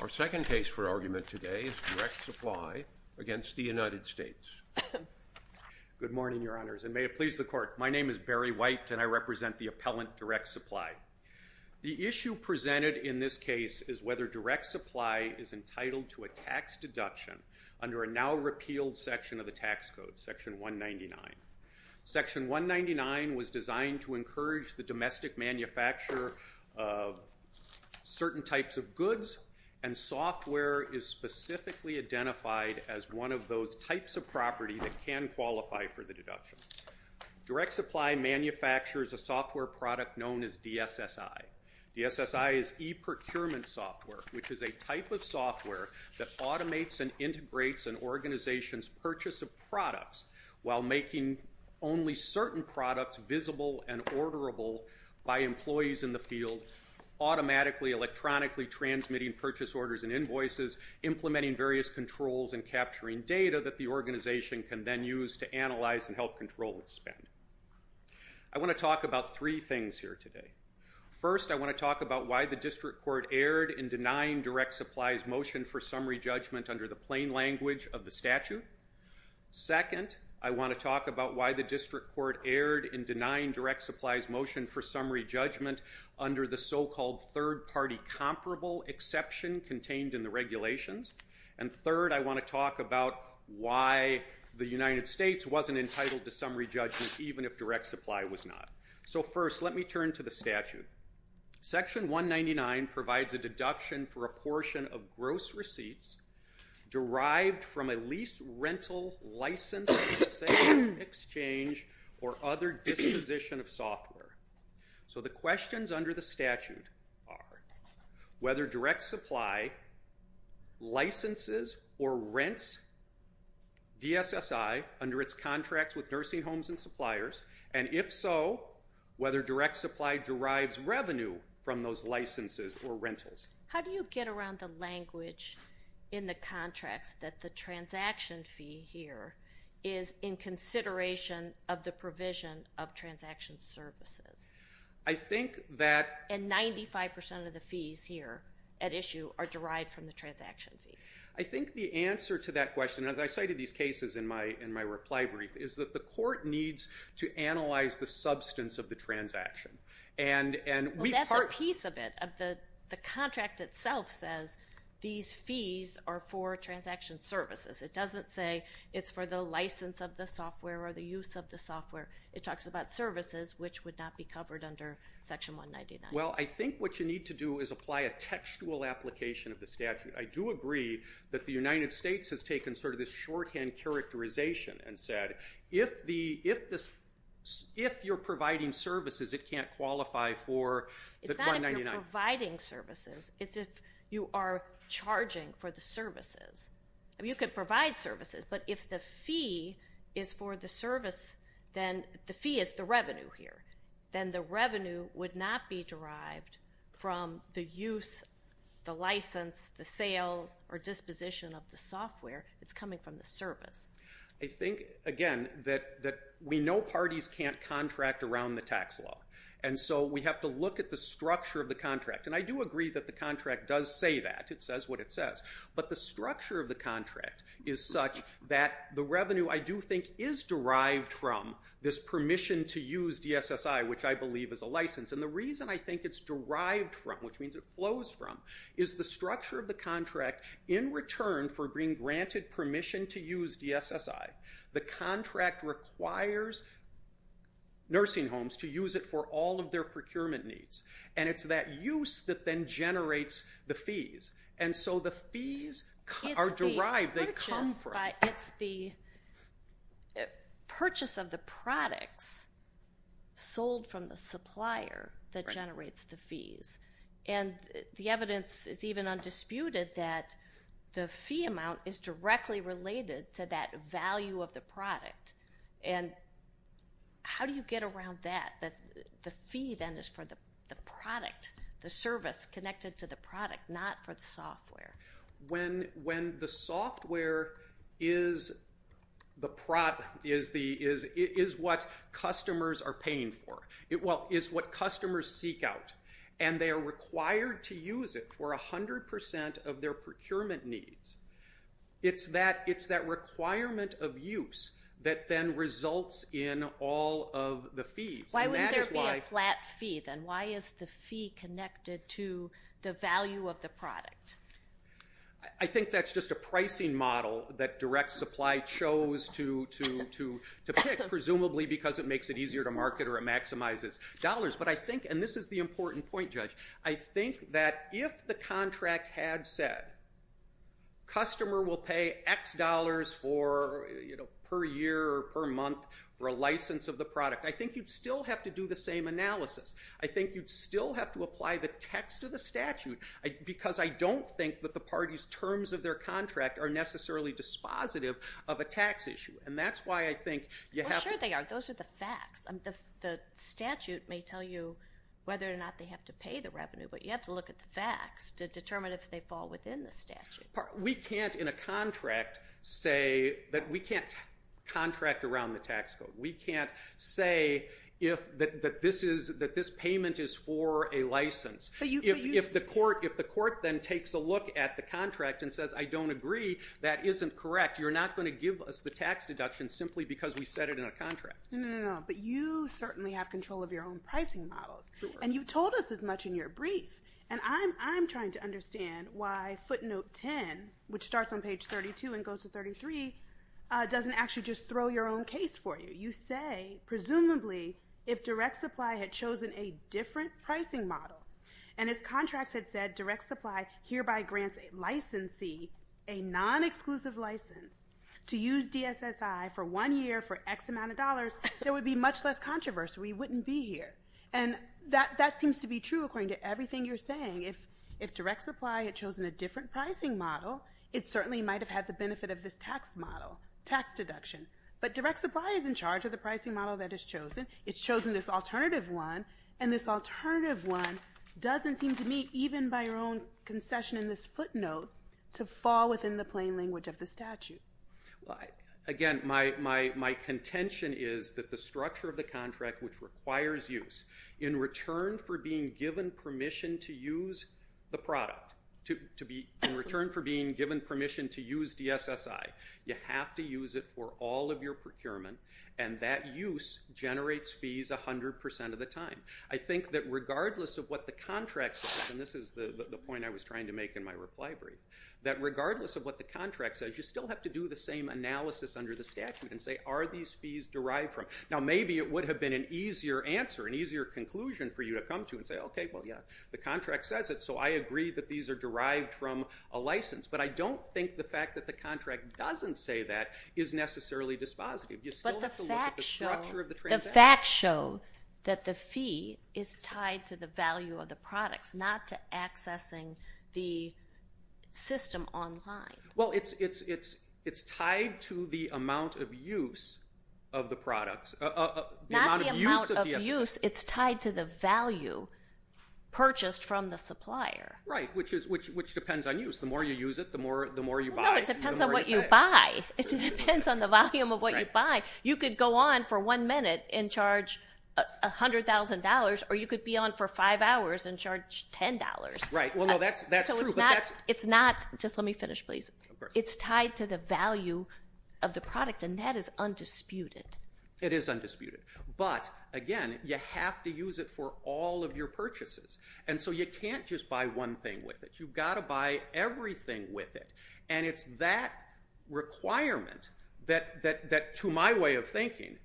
Our second case for argument today is Direct Supply against the United States. Good morning, Your Honors, and may it please the Court. My name is Barry White and I represent the appellant, Direct Supply. The issue presented in this case is whether Direct Supply is entitled to a tax deduction under a now-repealed section of the tax code, Section 199. Section 199 was designed to encourage the domestic manufacturer of certain types of goods, and software is specifically identified as one of those types of property that can qualify for the deduction. Direct Supply manufactures a software product known as DSSI. DSSI is e-procurement software, which is a type of software that automates and integrates an organization's purchase of products while making only certain products visible and orderable by employees in the field, automatically, electronically transmitting purchase orders and invoices, implementing various controls, and capturing data that the organization can then use to analyze and help control its spend. I want to talk about three things here today. First, I want to talk about why the District Court erred in denying Direct Supply's motion for summary judgment under the plain language of the statute. Second, I want to talk about why the District Court erred in denying Direct Supply's motion for summary judgment under the so-called third-party comparable exception contained in the regulations. And third, I want to talk about why the United States wasn't entitled to summary judgment even if Direct Supply was not. So first, let me turn to the statute. Section 199 provides a deduction for a portion of gross receipts derived from a lease, rental, license, sale, exchange, or other disposition of software. So the questions under the statute are whether Direct Supply licenses or rents DSSI under its contracts with nursing homes and suppliers, and if so, whether Direct Supply derives revenue from those licenses or rentals. How do you get around the language in the contracts that the transaction fee here is in consideration of the provision of transaction services? And 95% of the fees here at issue are derived from the transaction fees. I think the answer to that question, as I cited these cases in my reply brief, is that the court needs to analyze the substance of the transaction. Well, that's a piece of it. The contract itself says these fees are for transaction services. It doesn't say it's for the license of the software or the use of the software. It talks about services, which would not be covered under Section 199. Well, I think what you need to do is apply a textual application of the statute. I do agree that the United States has taken sort of this shorthand characterization and said, if you're providing services, it can't qualify for the 199. It's not if you're providing services. It's if you are charging for the services. You could provide services, but if the fee is for the service, then the fee is the revenue here. Then the revenue would not be derived from the use, the license, the sale, or disposition of the software. It's coming from the service. I think, again, that we know parties can't contract around the tax law. And so we have to look at the structure of the contract. And I do agree that the contract does say that. It says what it says. But the structure of the contract is such that the revenue, I do think, is derived from this permission to use DSSI, which I believe is a license. And the reason I think it's derived from, which means it flows from, is the structure of the contract in return for being granted permission to use DSSI. The contract requires nursing homes to use it for all of their procurement needs. And it's that use that then generates the fees. And so the fees are derived. They come from. It's the purchase of the products sold from the supplier that generates the fees. And the evidence is even undisputed that the fee amount is directly related to that value of the product. And how do you get around that? The fee then is for the product, the service connected to the product, not for the software. When the software is what customers are paying for, well, is what customers seek out. And they are required to use it for 100% of their procurement needs. It's that requirement of use that then results in all of the fees. Can there be a flat fee then? Why is the fee connected to the value of the product? I think that's just a pricing model that direct supply chose to pick, presumably because it makes it easier to market or it maximizes dollars. But I think, and this is the important point, Judge, I think that if the contract had said, customer will pay X dollars per year or per month for a license of the product, I think you'd still have to do the same analysis. I think you'd still have to apply the text of the statute, because I don't think that the party's terms of their contract are necessarily dispositive of a tax issue. And that's why I think you have to... Well, sure they are. Those are the facts. The statute may tell you whether or not they have to pay the revenue, but you have to look at the facts to determine if they fall within the statute. We can't, in a contract, say that we can't contract around the tax code. We can't say that this payment is for a license. If the court then takes a look at the contract and says, I don't agree, that isn't correct. You're not going to give us the tax deduction simply because we set it in a contract. No, no, no. But you certainly have control of your own pricing models. And you told us as much in your brief. And I'm trying to understand why footnote 10, which starts on page 32 and goes to 33, doesn't actually just throw your own case for you. You say, presumably, if direct supply had chosen a different pricing model, and as contracts had said, direct supply hereby grants a licensee a non-exclusive license to use DSSI for one year for X amount of dollars, there would be much less controversy. We wouldn't be here. And that seems to be true according to everything you're saying. If direct supply had chosen a different pricing model, it certainly might have had the benefit of this tax model, tax deduction. But direct supply is in charge of the pricing model that is chosen. It's chosen this alternative one. And this alternative one doesn't seem to me, even by your own concession in this footnote, to fall within the plain language of the statute. Again, my contention is that the structure of the contract, which requires use, in return for being given permission to use the product, in return for being given permission to use DSSI, you have to use it for all of your procurement, and that use generates fees 100% of the time. I think that regardless of what the contract says, and this is the point I was trying to make in my reply brief, that regardless of what the contract says, you still have to do the same analysis under the statute and say, are these fees derived from? Now, maybe it would have been an easier answer, an easier conclusion for you to come to and say, okay, well, yeah, the contract says it, so I agree that these are derived from a license. But I don't think the fact that the contract doesn't say that is necessarily dispositive. You still have to look at the structure of the transaction. But the facts show that the fee is tied to the value of the products, not to accessing the system online. Well, it's tied to the amount of use of the products. Not the amount of use. It's tied to the value purchased from the supplier. Right, which depends on use. The more you use it, the more you buy. No, it depends on what you buy. It depends on the volume of what you buy. You could go on for one minute and charge $100,000, or you could be on for five hours and charge $10. Right, well, no, that's true. It's not, just let me finish, please. It's tied to the value of the product, and that is undisputed. It is undisputed. But, again, you have to use it for all of your purchases. And so you can't just buy one thing with it. You've got to buy everything with it. And it's that requirement that, to my way of thinking,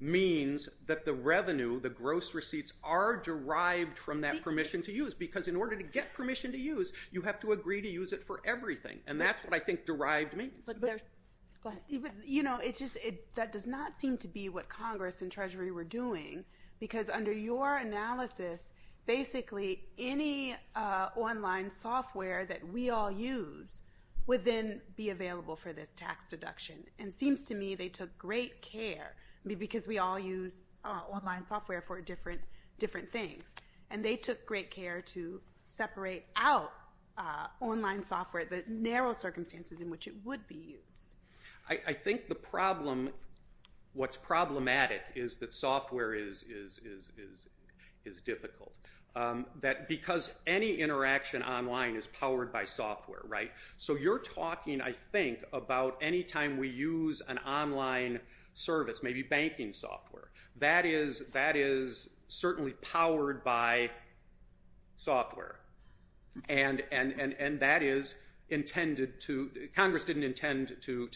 means that the revenue, the gross receipts, are derived from that permission to use. Because in order to get permission to use, you have to agree to use it for everything. And that's what I think derived means. Go ahead. You know, it's just, that does not seem to be what Congress and Treasury were doing. Because under your analysis, basically any online software that we all use would then be available for this tax deduction. And it seems to me they took great care, because we all use online software for different things. And they took great care to separate out online software, the narrow circumstances in which it would be used. I think the problem, what's problematic, is that software is difficult. That because any interaction online is powered by software, right? So you're talking, I think, about any time we use an online service, maybe banking software, that is certainly powered by software. And that is intended to, Congress didn't intend to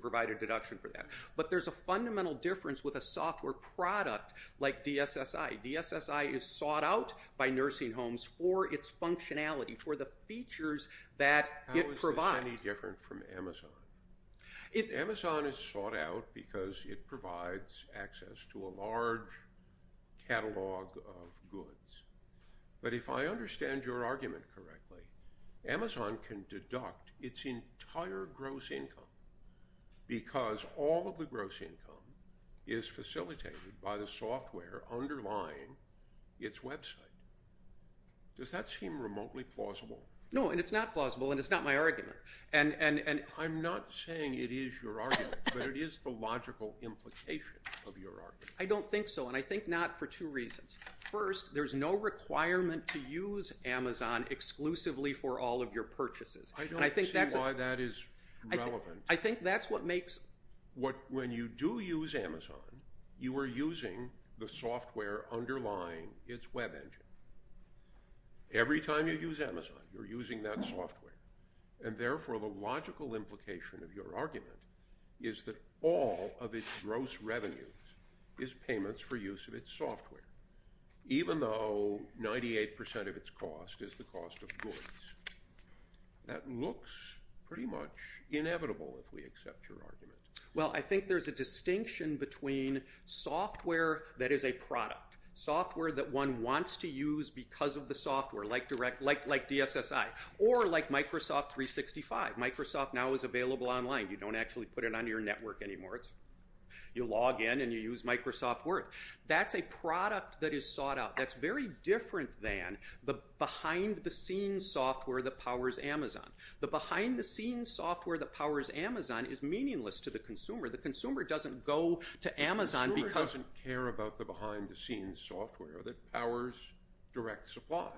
provide a deduction for that. But there's a fundamental difference with a software product like DSSI. DSSI is sought out by nursing homes for its functionality, for the features that it provides. How is this any different from Amazon? Amazon is sought out because it provides access to a large catalog of goods. But if I understand your argument correctly, Amazon can deduct its entire gross income because all of the gross income is facilitated by the software underlying its website. Does that seem remotely plausible? No, and it's not plausible, and it's not my argument. I'm not saying it is your argument, but it is the logical implication of your argument. I don't think so, and I think not for two reasons. First, there's no requirement to use Amazon exclusively for all of your purchases. I don't see why that is relevant. I think that's what makes... When you do use Amazon, you are using the software underlying its web engine. Every time you use Amazon, you're using that software. And therefore, the logical implication of your argument is that all of its gross revenues is payments for use of its software, even though 98% of its cost is the cost of goods. That looks pretty much inevitable, if we accept your argument. Well, I think there's a distinction between software that is a product, software that one wants to use because of the software, like DSSI, or like Microsoft 365. Microsoft now is available online. You don't actually put it on your network anymore. You log in and you use Microsoft Word. That's a product that is sought out. That's very different than the behind-the-scenes software that powers Amazon. The behind-the-scenes software that powers Amazon is meaningless to the consumer. The consumer doesn't go to Amazon because... The consumer doesn't care about the behind-the-scenes software that powers direct supply.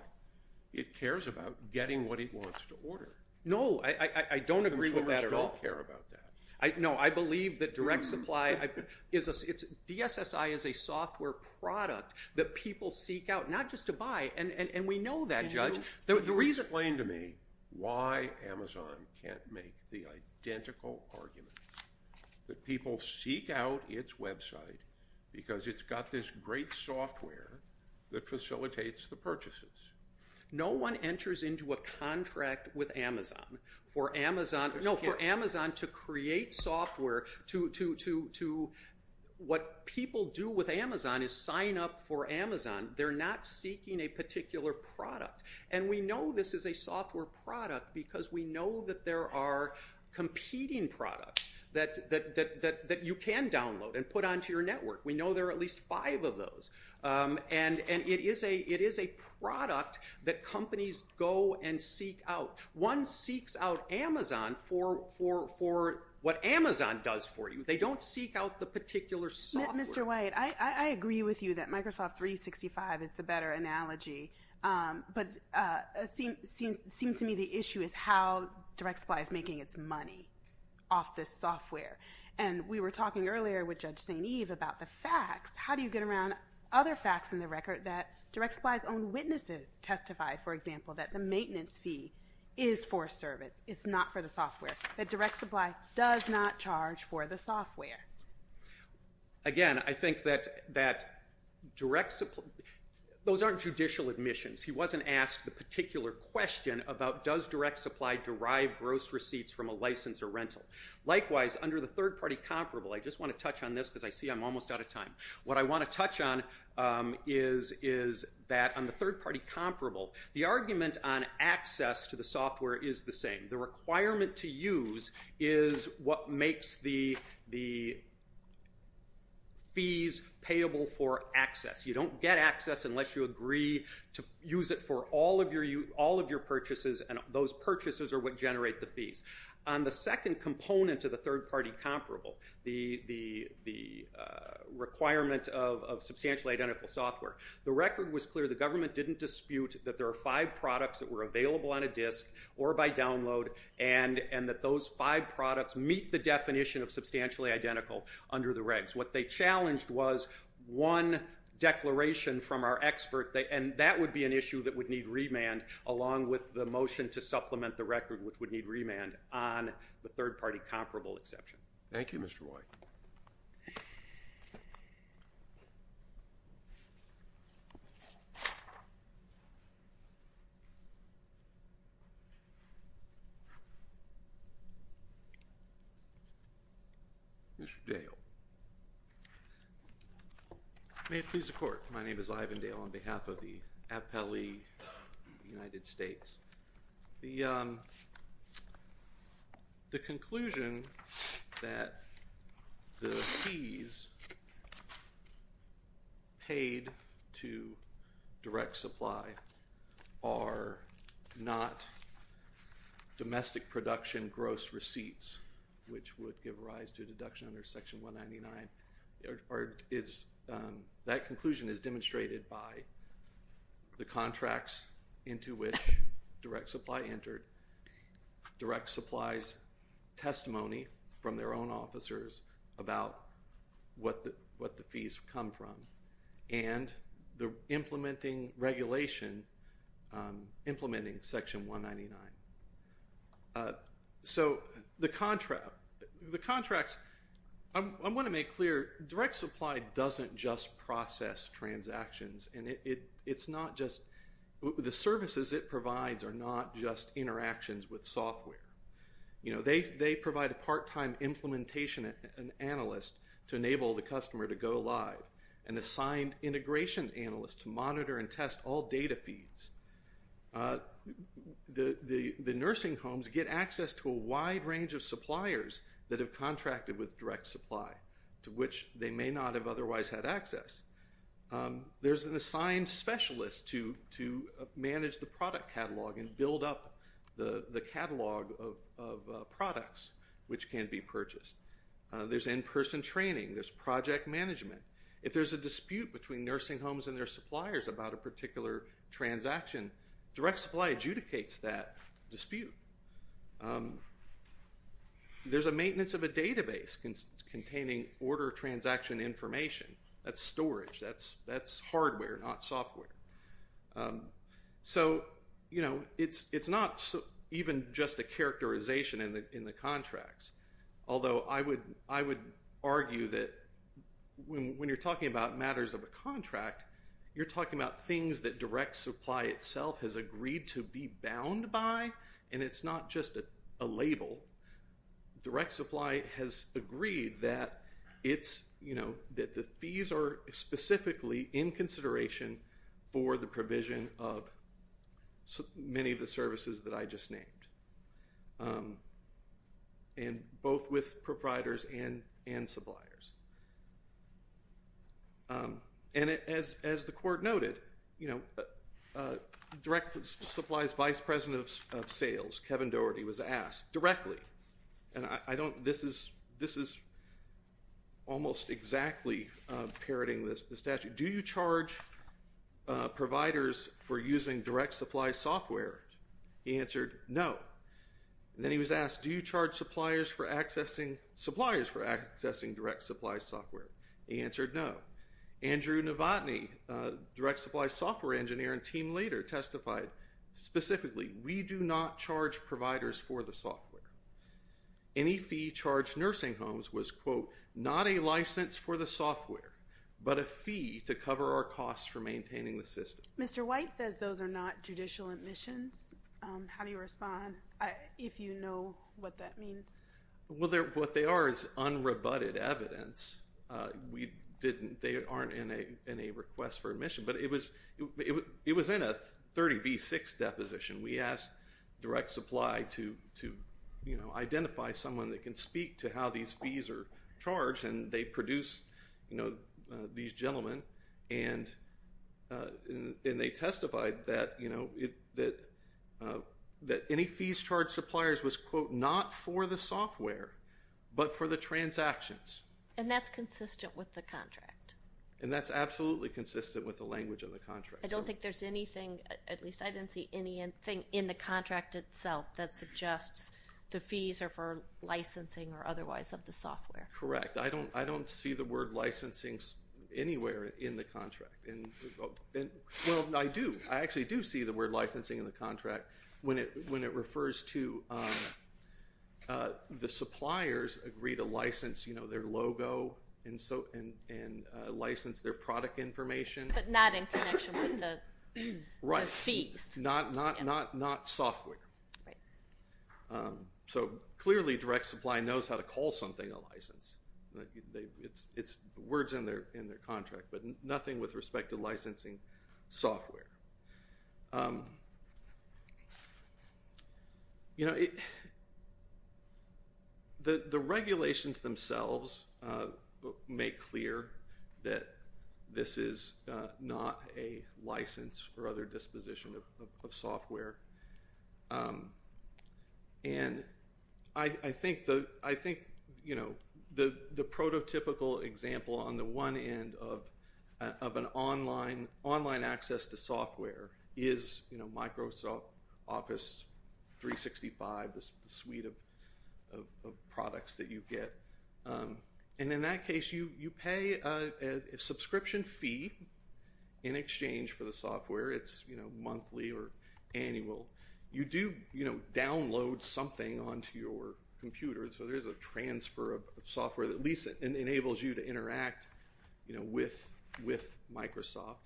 It cares about getting what it wants to order. No, I don't agree with that at all. Consumers don't care about that. No, I believe that direct supply... DSSI is a software product that people seek out, not just to buy, and we know that, Judge. Can you explain to me why Amazon can't make the identical argument that people seek out its website because it's got this great software that facilitates the purchases? No one enters into a contract with Amazon for Amazon to create software to... What people do with Amazon is sign up for Amazon. They're not seeking a particular product, and we know this is a software product because we know that there are competing products that you can download and put onto your network. We know there are at least five of those, and it is a product that companies go and seek out. One seeks out Amazon for what Amazon does for you. They don't seek out the particular software. Mr. White, I agree with you that Microsoft 365 is the better analogy, but it seems to me the issue is how direct supply is making its money off this software, and we were talking earlier with Judge St. Eve about the facts. How do you get around other facts in the record that direct supply's own witnesses testified, for example, that the maintenance fee is for service, it's not for the software, that direct supply does not charge for the software? Again, I think that direct supply, those aren't judicial admissions. He wasn't asked the particular question about does direct supply derive gross receipts from a license or rental. Likewise, under the third-party comparable, I just want to touch on this because I see I'm almost out of time. What I want to touch on is that on the third-party comparable, the argument on access to the software is the same. The requirement to use is what makes the fees payable for access. You don't get access unless you agree to use it for all of your purchases, and those purchases are what generate the fees. On the second component to the third-party comparable, the requirement of substantially identical software, the record was clear. The government didn't dispute that there are five products on the record and that those five products meet the definition of substantially identical under the regs. What they challenged was one declaration from our expert, and that would be an issue that would need remand along with the motion to supplement the record which would need remand on the third-party comparable exception. Thank you, Mr. White. Mr. Dale. May it please the court. My name is Ivan Dale on behalf of the Appellee United States. The conclusion that the fees paid to direct supply are not domestic production gross receipts which would give rise to a deduction under Section 199, that conclusion is demonstrated by the contracts into which direct supply entered, direct supply's testimony from their own officers about what the fees come from, and the implementing regulation, implementing Section 199. So the contracts, I want to make clear, direct supply doesn't just process transactions, and it's not just, the services it provides are not just interactions with software. They provide a part-time implementation and analyst to enable the customer to go live, an assigned integration analyst to monitor and test all data feeds. The nursing homes get access to a wide range of suppliers that have contracted with direct supply to which they may not have otherwise had access. There's an assigned specialist to manage the product catalog and build up the catalog of products which can be purchased. There's in-person training. There's project management. If there's a dispute between nursing homes and their suppliers about a particular transaction, direct supply adjudicates that dispute. There's a maintenance of a database containing order transaction information. That's storage. That's hardware, not software. So, you know, it's not even just a characterization in the contracts, although I would argue that when you're talking about matters of a contract, you're talking about things that direct supply itself has agreed to be bound by, and it's not just a label. Direct supply has agreed that it's, you know, that the fees are specifically in consideration for the provision of many of the services that I just named. And both with providers and suppliers. And as the court noted, you know, direct supply's vice president of sales, Kevin Doherty, was asked directly, and I don't, this is, this is almost exactly parroting the statute. Do you charge providers for using direct supply software? He answered no. Then he was asked, do you charge suppliers for accessing, suppliers for accessing direct supply software? He answered no. Andrew Novotny, direct supply software engineer and team leader, testified specifically, we do not charge providers for the software. Any fee charged nursing homes was, quote, not a license for the software, but a fee to cover our costs for maintaining the system. Mr. White says those are not judicial admissions. How do you respond, if you know what that means? Well, what they are is unrebutted evidence. We didn't, they aren't in a request for admission. But it was, it was in a 30B6 deposition. We asked direct supply to, you know, identify someone that can speak to how these fees are charged. And they produced, you know, these gentlemen. And they testified that, you know, that any fees charged suppliers was, quote, not for the software, but for the transactions. And that's consistent with the contract? And that's absolutely consistent with the language of the contract. I don't think there's anything, at least I didn't see anything in the contract itself that suggests the fees are for licensing or otherwise of the software. Correct. I don't see the word licensing anywhere in the contract. And, well, I do. I actually do see the word licensing in the contract when it refers to the suppliers agree to license, you know, their logo and license their product information. But not in connection with the fees. Right, not software. Right. So clearly direct supply knows how to call something a license. It's words in their contract, but nothing with respect to licensing software. You know, the regulations themselves make clear that this is not a license or other disposition of software. And I think, you know, the prototypical example on the one end of an online access to software is, you know, Microsoft Office 365, the suite of products that you get. And in that case, you pay a subscription fee in exchange for the software. It's, you know, monthly or annual. You do, you know, download something onto your computer. So there's a transfer of software that at least enables you to interact, you know, with Microsoft.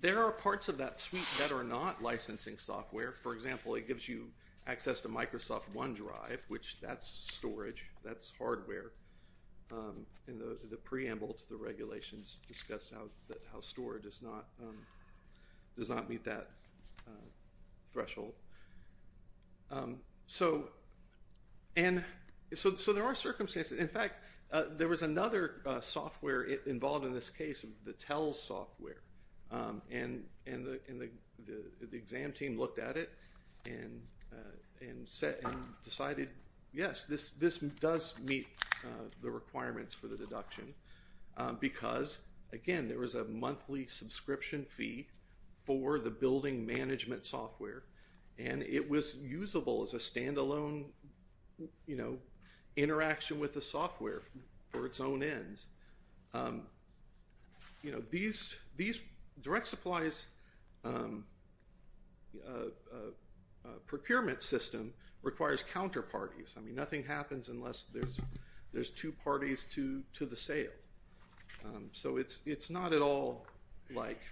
There are parts of that suite that are not licensing software. For example, it gives you access to Microsoft OneDrive, which that's storage. That's hardware. And the preamble to the regulations discuss how storage does not meet that threshold. So there are circumstances. In fact, there was another software involved in this case, the TELS software. And the exam team looked at it and decided, yes, this does meet the requirements for the deduction because, again, there was a monthly subscription fee for the building management software. And it was usable as a stand-alone, you know, interaction with the software for its own ends. You know, these direct supplies procurement system requires counterparties. I mean, nothing happens unless there's two parties to the sale. So it's not at all like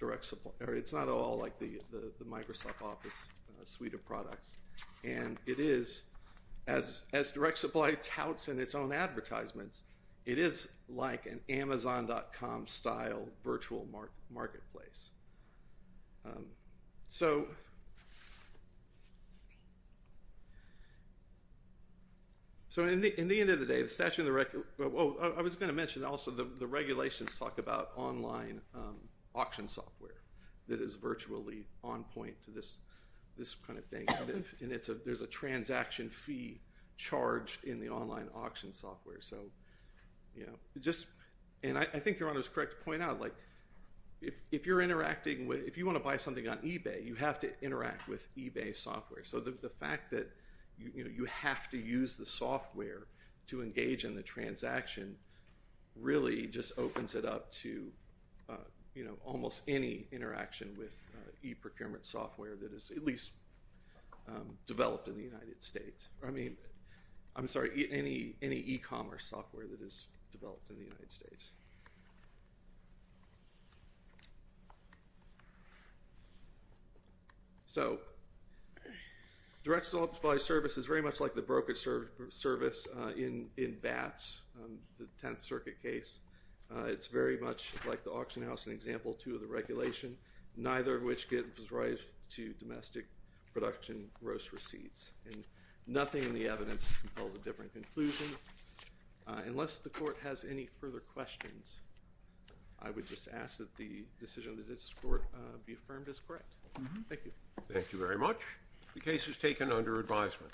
direct supply. It's not at all like the Microsoft Office suite of products. And it is, as direct supply touts in its own advertisements, it is like an Amazon.com-style virtual marketplace. So in the end of the day, the statute of the record, oh, I was going to mention also the regulations talk about online auction software that is virtually on point to this kind of thing. And there's a transaction fee charged in the online auction software. So, you know, just, and I think your Honor is correct to point out, like if you're interacting with, if you want to buy something on eBay, you have to interact with eBay software. So the fact that, you know, you have to use the software to engage in the transaction really just opens it up to, you know, almost any interaction with e-procurement software that is at least developed in the United States. I mean, I'm sorry, any e-commerce software that is developed in the United States. Thank you. So, direct sales by service is very much like the brokerage service in BATS, the Tenth Circuit case. It's very much like the auction house in example two of the regulation, neither of which gives rise to domestic production gross receipts. And nothing in the evidence compels a different conclusion. Unless the Court has any further questions, I would just ask that the decision of this Court be affirmed as correct. Thank you. Thank you very much. The case is taken under advisement.